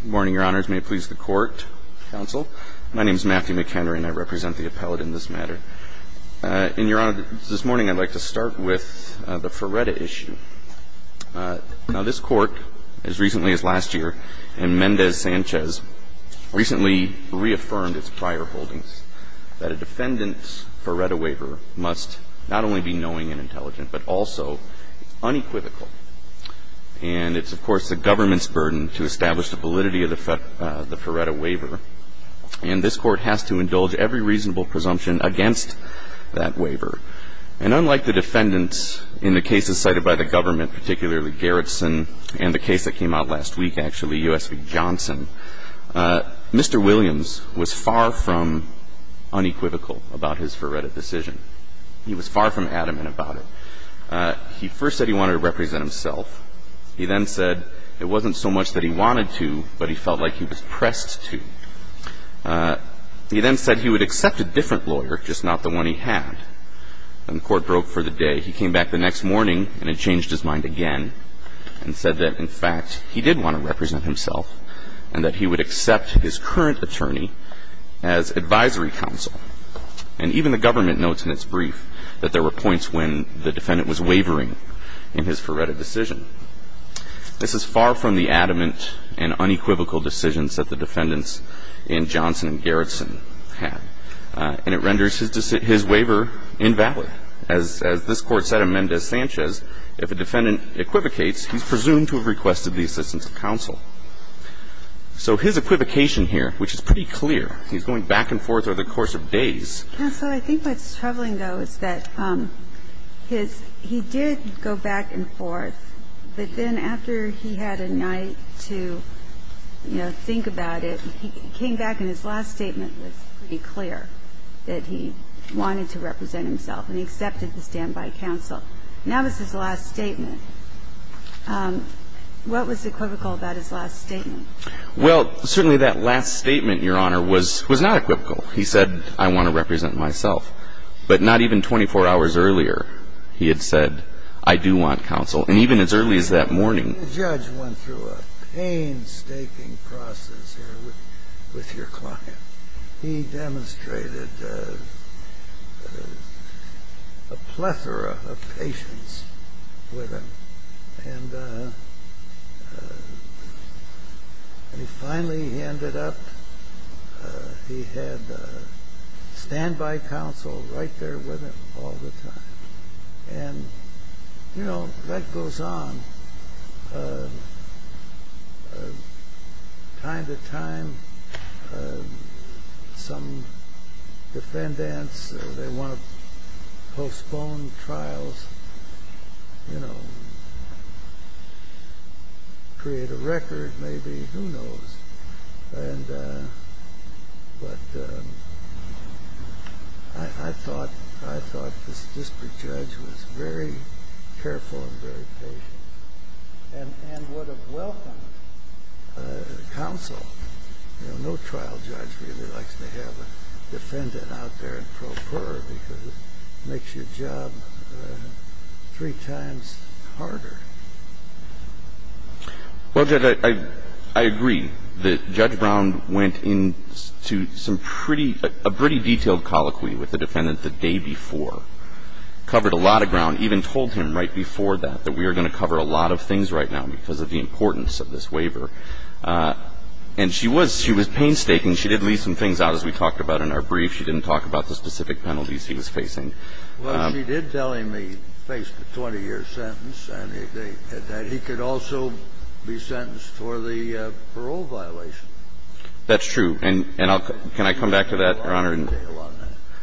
Good morning, Your Honors. May it please the Court, Counsel. My name is Matthew McHenry, and I represent the appellate in this matter. And, Your Honor, this morning I'd like to start with the Ferretta issue. Now, this Court, as recently as last year, in Mendez-Sanchez, recently reaffirmed its prior holdings, that a defendant's Ferretta waiver must not only be knowing and intelligent, but also unequivocal. And it's, of course, the government's burden to establish the validity of the Ferretta waiver. And this Court has to indulge every reasonable presumption against that waiver. And unlike the defendants in the cases cited by the government, particularly Garrison and the case that came out last week, actually, U.S. v. Johnson, Mr. Williams was far from unequivocal about his Ferretta decision. He was far from adamant about it. He first said he wanted to represent himself. He then said it wasn't so much that he wanted to, but he felt like he was pressed to. He then said he would accept a different lawyer, just not the one he had. And the Court broke for the day. He came back the next morning and had changed his mind again and said that, in fact, he did want to represent himself, and that he would accept his current attorney as advisory counsel. And even the government notes in its brief that there were points when the defendant was wavering in his Ferretta decision. This is far from the adamant and unequivocal decisions that the defendants in Johnson and Garrison had. And it renders his waiver invalid. As this Court said in Mendez-Sanchez, if a defendant equivocates, he's presumed to have requested the assistance of counsel. So his equivocation here, which is pretty clear, he's going back and forth over the course of days. Counsel, I think what's troubling, though, is that his – he did go back and forth. But then after he had a night to, you know, think about it, he came back and his last statement was pretty clear, that he wanted to represent himself, and he accepted the standby counsel. Now this is his last statement. What was equivocal about his last statement? Well, certainly that last statement, Your Honor, was not equivocal. He said, I want to represent myself. But not even 24 hours earlier he had said, I do want counsel. And even as early as that morning. The judge went through a painstaking process here with your client. He demonstrated a plethora of patience with him. And he finally ended up – he had standby counsel right there with him all the time. And, you know, life goes on. Time to time some defendants, they want to postpone trials, you know, create a record maybe, who knows. But I thought this district judge was very careful and very patient and would have welcomed counsel. You know, no trial judge really likes to have a defendant out there in pro pura because it makes your job three times harder. Well, Judge, I agree that Judge Brown went into some pretty – a pretty detailed colloquy with the defendant the day before, covered a lot of ground, even told him right before that that we are going to cover a lot of things right now because of the importance of this waiver. And she was – she was painstaking. She did leave some things out, as we talked about in our brief. She didn't talk about the specific penalties he was facing. Well, she did tell him he faced a 20-year sentence and that he could also be sentenced for the parole violation. That's true. And I'll – can I come back to that, Your Honor, and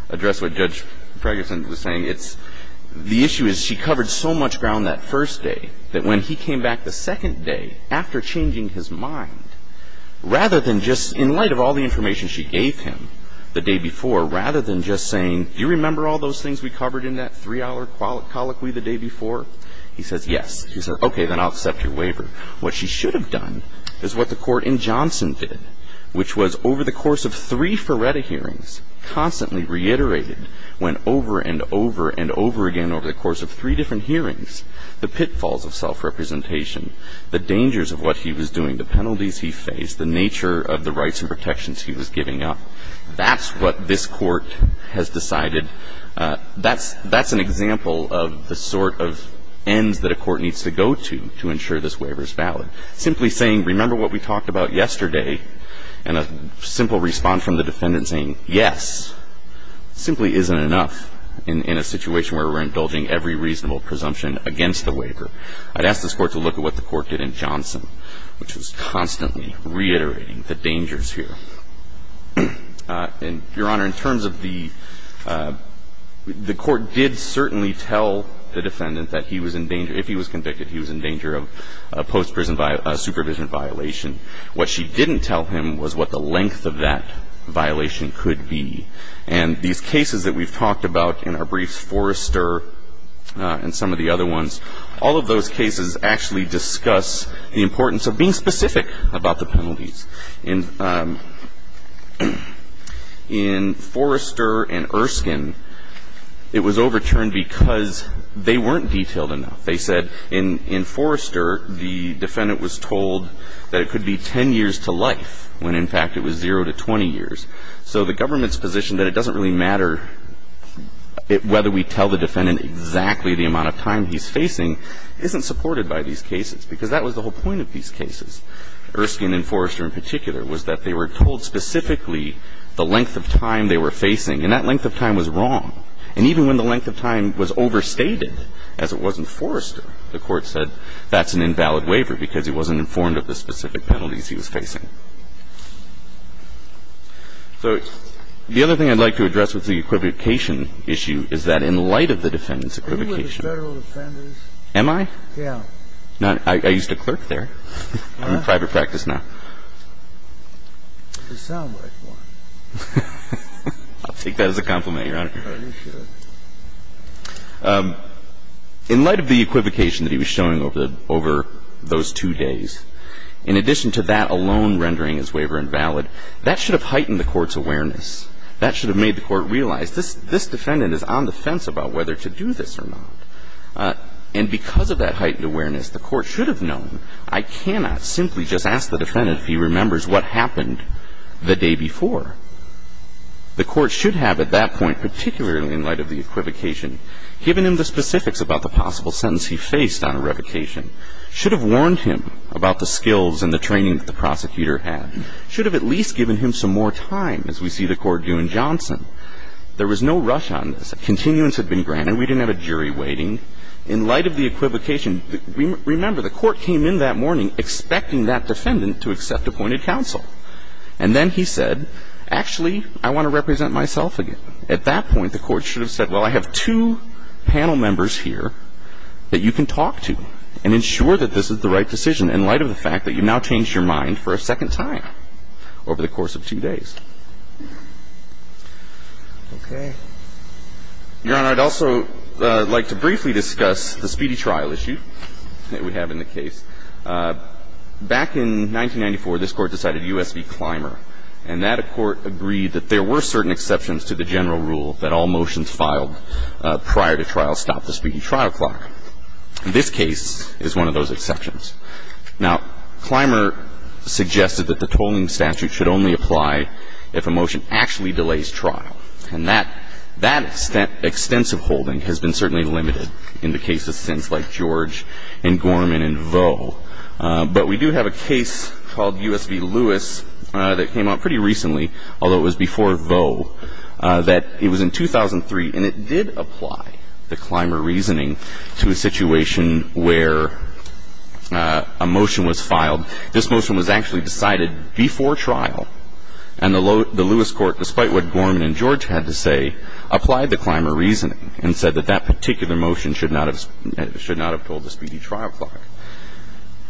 address what Judge Ferguson was saying? It's – the issue is she covered so much ground that first day that when he came back the second day after changing his mind, rather than just – in light of all the things we covered in that three-hour colloquy the day before, he says, yes. He said, okay, then I'll accept your waiver. What she should have done is what the Court in Johnson did, which was over the course of three Ferretta hearings, constantly reiterated when over and over and over again over the course of three different hearings, the pitfalls of self-representation, the dangers of what he was doing, the penalties he faced, the nature of the rights and protections he was giving up. That's what this Court has decided. That's – that's an example of the sort of ends that a court needs to go to to ensure this waiver is valid. Simply saying, remember what we talked about yesterday, and a simple response from the defendant saying, yes, simply isn't enough in a situation where we're indulging every reasonable presumption against the waiver. I'd ask this Court to look at what the Court did in Johnson, which was constantly reiterating the dangers here. And, Your Honor, in terms of the – the Court did certainly tell the defendant that he was in danger – if he was convicted, he was in danger of a post-prison supervision violation. What she didn't tell him was what the length of that violation could be. And these cases that we've talked about in our briefs, Forrester and some of the other ones, all of those cases actually discuss the importance of being specific about the penalties. In Forrester and Erskine, it was overturned because they weren't detailed enough. They said in Forrester, the defendant was told that it could be 10 years to life when, in fact, it was zero to 20 years. So the government's position that it doesn't really matter whether we tell the defendant exactly the amount of time he's facing isn't supported by these cases, because that was the whole point of these cases. Erskine and Forrester in particular was that they were told specifically the length of time they were facing, and that length of time was wrong. And even when the length of time was overstated, as it was in Forrester, the Court said that's an invalid waiver because he wasn't informed of the specific penalties he was facing. So the other thing I'd like to address with the equivocation issue is that in light of the defendant's equivocation – Are you one of the Federal defenders? Am I? Yeah. I used to clerk there. I'm in private practice now. You sound like one. I'll take that as a compliment, Your Honor. Oh, you should. In light of the equivocation that he was showing over the – over those two days, in addition to that alone rendering his waiver invalid, that should have heightened the Court's awareness. That should have made the Court realize this defendant is on the fence about whether to do this or not. And because of that heightened awareness, the Court should have known. I cannot simply just ask the defendant if he remembers what happened the day before. The Court should have at that point, particularly in light of the equivocation, given him the specifics about the possible sentence he faced on a revocation, should have warned him about the skills and the training that the prosecutor had, should have at least given him some more time, as we see the Court do in Johnson. There was no rush on this. Continuance had been granted. And we didn't have a jury waiting. In light of the equivocation, remember, the Court came in that morning expecting that defendant to accept appointed counsel. And then he said, actually, I want to represent myself again. At that point, the Court should have said, well, I have two panel members here that you can talk to and ensure that this is the right decision, in light of the fact that you now changed your mind for a second time over the course of two days. Okay. Your Honor, I'd also like to briefly discuss the speedy trial issue that we have in the case. Back in 1994, this Court decided U.S. v. Clymer. And that Court agreed that there were certain exceptions to the general rule that all motions filed prior to trial stopped the speedy trial clock. This case is one of those exceptions. Now, Clymer suggested that the tolling statute should only apply if a motion actually delays trial. And that extensive holding has been certainly limited in the case of sins like George and Gorman and Vaux. But we do have a case called U.S. v. Lewis that came out pretty recently, although it was before Vaux, that it was in 2003, and it did apply the Clymer reasoning to a situation where a motion was filed. This motion was actually decided before trial. And the Lewis Court, despite what Gorman and George had to say, applied the Clymer reasoning and said that that particular motion should not have told the speedy trial clock.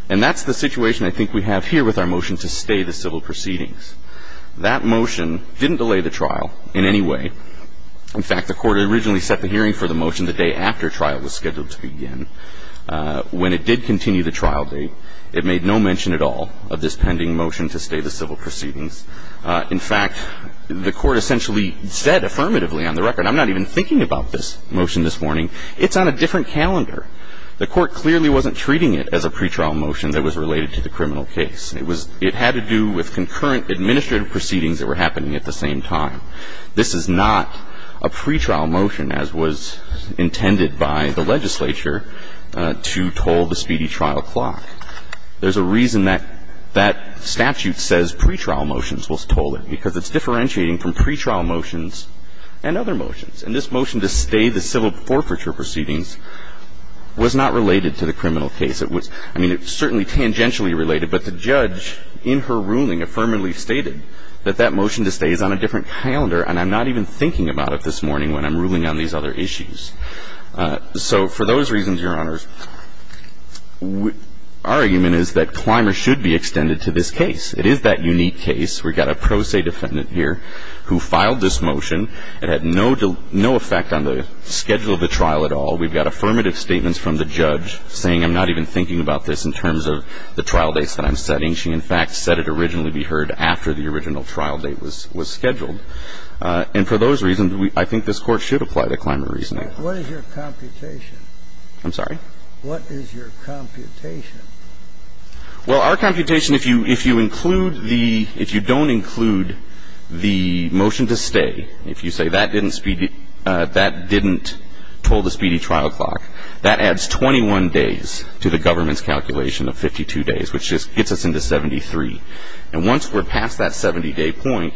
And that's the situation I think we have here with our motion to stay the civil proceedings. That motion didn't delay the trial in any way. In fact, the Court originally set the hearing for the motion the day after trial was scheduled to begin. When it did continue the trial date, it made no mention at all of this pending motion to stay the civil proceedings. In fact, the Court essentially said affirmatively on the record, I'm not even thinking about this motion this morning. It's on a different calendar. The Court clearly wasn't treating it as a pretrial motion that was related to the criminal case. It was — it had to do with concurrent administrative proceedings that were happening at the same time. This is not a pretrial motion as was intended by the legislature to toll the speedy trial clock. There's a reason that that statute says pretrial motions was tolled, because it's differentiating from pretrial motions and other motions. And this motion to stay the civil forfeiture proceedings was not related to the criminal case. It was — I mean, it's certainly tangentially related, but the judge in her ruling affirmatively stated that that motion to stay is on a different calendar, and I'm not even thinking about it this morning when I'm ruling on these other issues. So for those reasons, Your Honors, our argument is that Clymer should be extended to this case. It is that unique case. We've got a pro se defendant here who filed this motion. It had no effect on the schedule of the trial at all. We've got affirmative statements from the judge saying I'm not even thinking about this in terms of the trial dates that I'm setting. She, in fact, said it originally be heard after the original trial date was scheduled. And for those reasons, I think this Court should apply the Clymer reasoning. Okay. I think that's a fair argument. What is your computation? I'm sorry? What is your computation? Well, our computation, if you include the — if you don't include the motion to stay, if you say that didn't speed — that didn't toll the speedy trial clock, that adds 21 days to the government's calculation of 52 days, which just gets us into 73. And once we're past that 70-day point,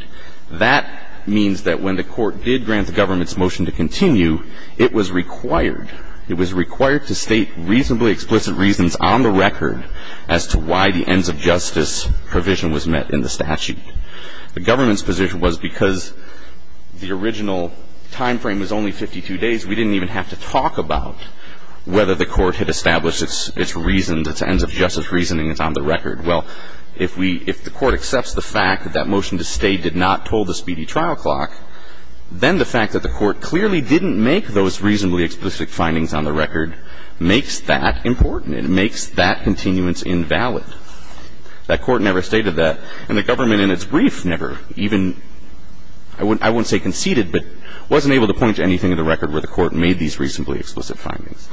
that means that when the court did grant the government's motion to continue, it was required — it was required to state reasonably explicit reasons on the record as to why the ends-of-justice provision was met in the statute. The government's position was because the original timeframe was only 52 days, we didn't even have to talk about whether the court had established its reasons, its ends-of-justice reasoning is on the record. Well, if we — if the court accepts the fact that that motion to stay did not toll the speedy trial clock, then the fact that the court clearly didn't make those reasonably explicit findings on the record makes that important. It makes that continuance invalid. That court never stated that, and the government in its brief never even — I won't say conceded, but wasn't able to point to anything on the record where the court made these reasonably explicit findings.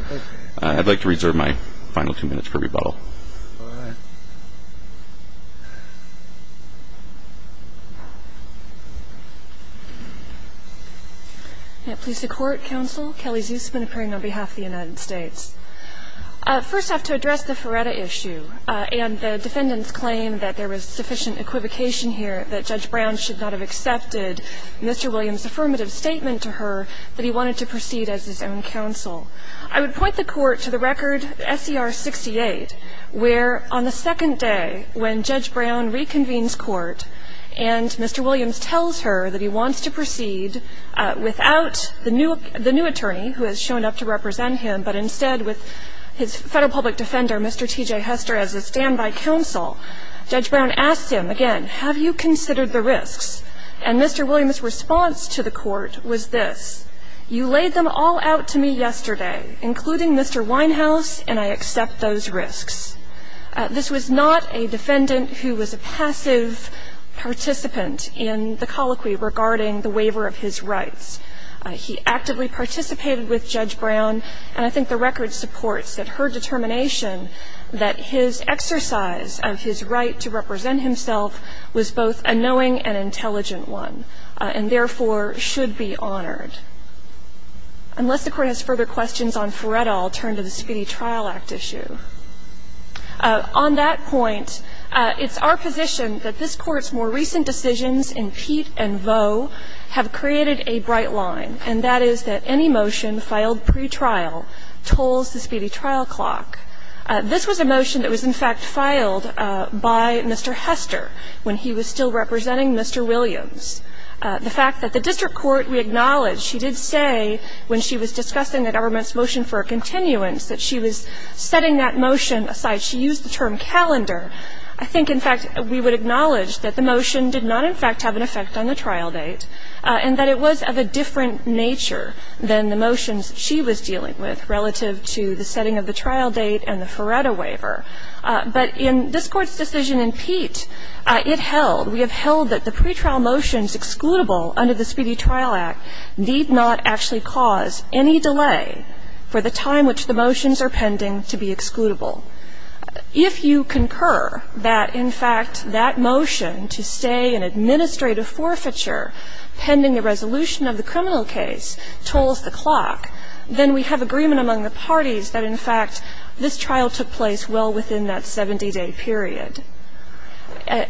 I'd like to reserve my final two minutes for rebuttal. All right. Can it please the Court, counsel? Kelly Zusman, appearing on behalf of the United States. First, I have to address the Feretta issue. And the defendants claim that there was sufficient equivocation here, that Judge Brown should not have accepted Mr. Williams' affirmative statement to her that he wanted to proceed as his own counsel. I would point the court to the record S.E.R. 68, where on the second day when Judge Brown reconvenes court and Mr. Williams tells her that he wants to proceed without the new — the new attorney who has shown up to represent him, but instead with his Federal Public Defender, Mr. T.J. Hester, as his standby counsel, Judge Brown asked him again, have you considered the risks? And Mr. Williams' response to the court was this, you laid them all out to me yesterday including Mr. Winehouse, and I accept those risks. This was not a defendant who was a passive participant in the colloquy regarding the waiver of his rights. He actively participated with Judge Brown, and I think the record supports that her determination that his exercise of his right to represent himself was both a knowing and intelligent one, and therefore should be honored. Unless the Court has further questions on Farrell, I'll turn to the Speedy Trial Act issue. On that point, it's our position that this Court's more recent decisions in Peet and Vaux have created a bright line, and that is that any motion filed pretrial tolls the Speedy Trial Clock. This was a motion that was, in fact, filed by Mr. Hester when he was still representing Mr. Williams. The fact that the district court, we acknowledge, she did say when she was discussing the government's motion for a continuance that she was setting that motion aside. She used the term calendar. I think, in fact, we would acknowledge that the motion did not, in fact, have an effect on the trial date, and that it was of a different nature than the motions she was dealing with relative to the setting of the trial date and the Feretta waiver. But in this Court's decision in Peet, it held, we have held that the pretrial motions excludable under the Speedy Trial Act need not actually cause any delay for the time which the motions are pending to be excludable. If you concur that, in fact, that motion to stay in administrative forfeiture pending the resolution of the criminal case tolls the clock, then we have agreement among the parties that, in fact, this trial took place well within that 70-day period.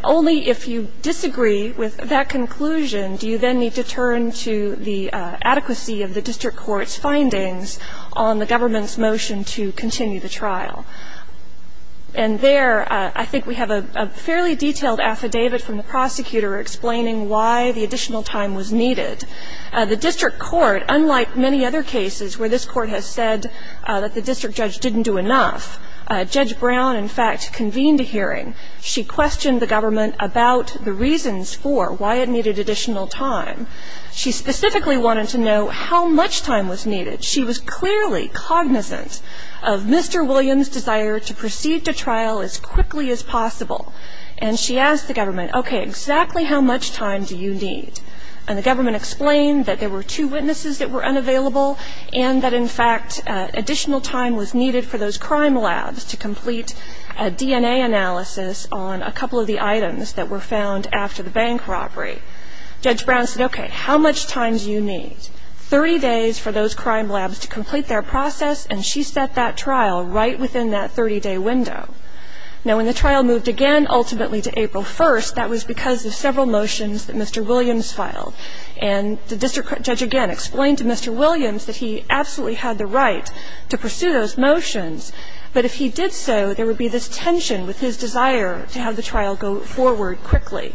Only if you disagree with that conclusion do you then need to turn to the adequacy of the district court's findings on the government's motion to continue the trial. And there, I think we have a fairly detailed affidavit from the prosecutor explaining why the additional time was needed. The district court, unlike many other cases where this Court has said that the district judge didn't do enough, Judge Brown, in fact, convened a hearing. She questioned the government about the reasons for why it needed additional time. She specifically wanted to know how much time was needed. She was clearly cognizant of Mr. Williams' desire to proceed to trial as quickly as possible. And she asked the government, okay, exactly how much time do you need? And the government explained that there were two witnesses that were unavailable and that, in fact, additional time was needed for those crime labs to complete a DNA analysis on a couple of the items that were found after the bank robbery. Judge Brown said, okay, how much time do you need? Thirty days for those crime labs to complete their process, and she set that trial right within that 30-day window. Now, when the trial moved again, ultimately, to April 1st, that was because of several motions that Mr. Williams filed. And the district judge again explained to Mr. Williams that he absolutely had the right to pursue those motions, but if he did so, there would be this tension with his desire to have the trial go forward quickly.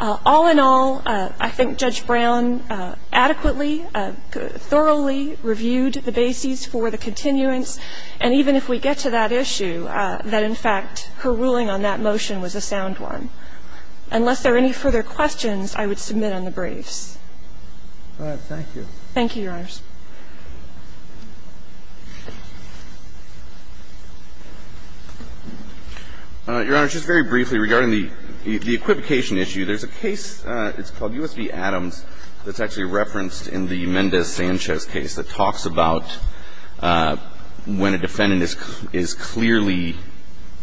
All in all, I think Judge Brown adequately, thoroughly reviewed the bases for the continuance, and even if we get to that issue, that, in fact, her ruling on that motion was a sound one. Unless there are any further questions, I would submit on the briefs. All right. Thank you. Thank you, Your Honors. Your Honors, just very briefly, regarding the equivocation issue, there's a case that's called U.S. v. Adams that's actually referenced in the Mendez-Sanchez case that talks about when a defendant is clearly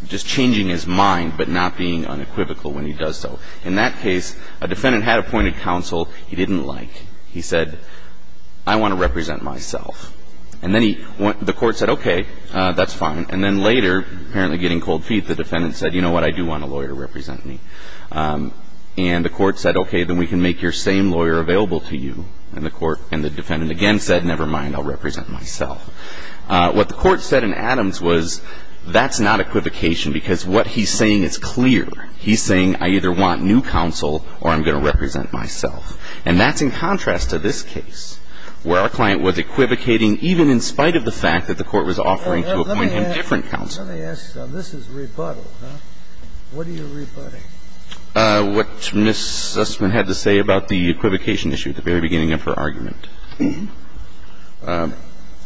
just changing his mind but not being unequivocal when he does so. In that case, a defendant had appointed counsel he didn't like. He said, I want to represent myself. And then the court said, okay, that's fine. And then later, apparently getting cold feet, the defendant said, you know what, I do want a lawyer to represent me. And the court said, okay, then we can make your same lawyer available to you. And the defendant again said, never mind, I'll represent myself. What the court said in Adams was that's not equivocation because what he's saying is clear. He's saying I either want new counsel or I'm going to represent myself. And that's in contrast to this case where our client was equivocating even in spite of the fact that the court was offering to appoint him different counsel. Let me ask you something. This is rebuttal, huh? What are you rebutting? What Ms. Sussman had to say about the equivocation issue at the very beginning of her argument.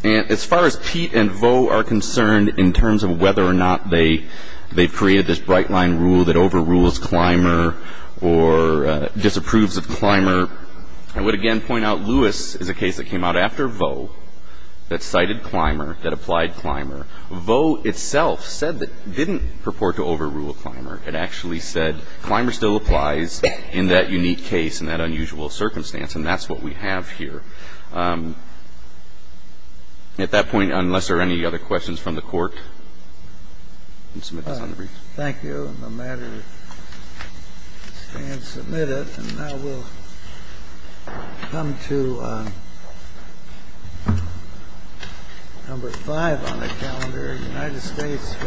And as far as Pete and Vaux are concerned in terms of whether or not they've created this bright-line rule that overrules Clymer or disapproves of Clymer, I would again point out Lewis is a case that came out after Vaux that cited Clymer, that applied Clymer. Vaux itself said that didn't purport to overrule Clymer. It actually said Clymer still applies in that unique case and that unusual circumstance. And that's what we have here. At that point, unless there are any other questions from the Court, I'll submit it. Thank you. And now we'll come to number five on the calendar, United States v.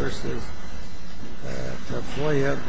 Tafoya Gonzales.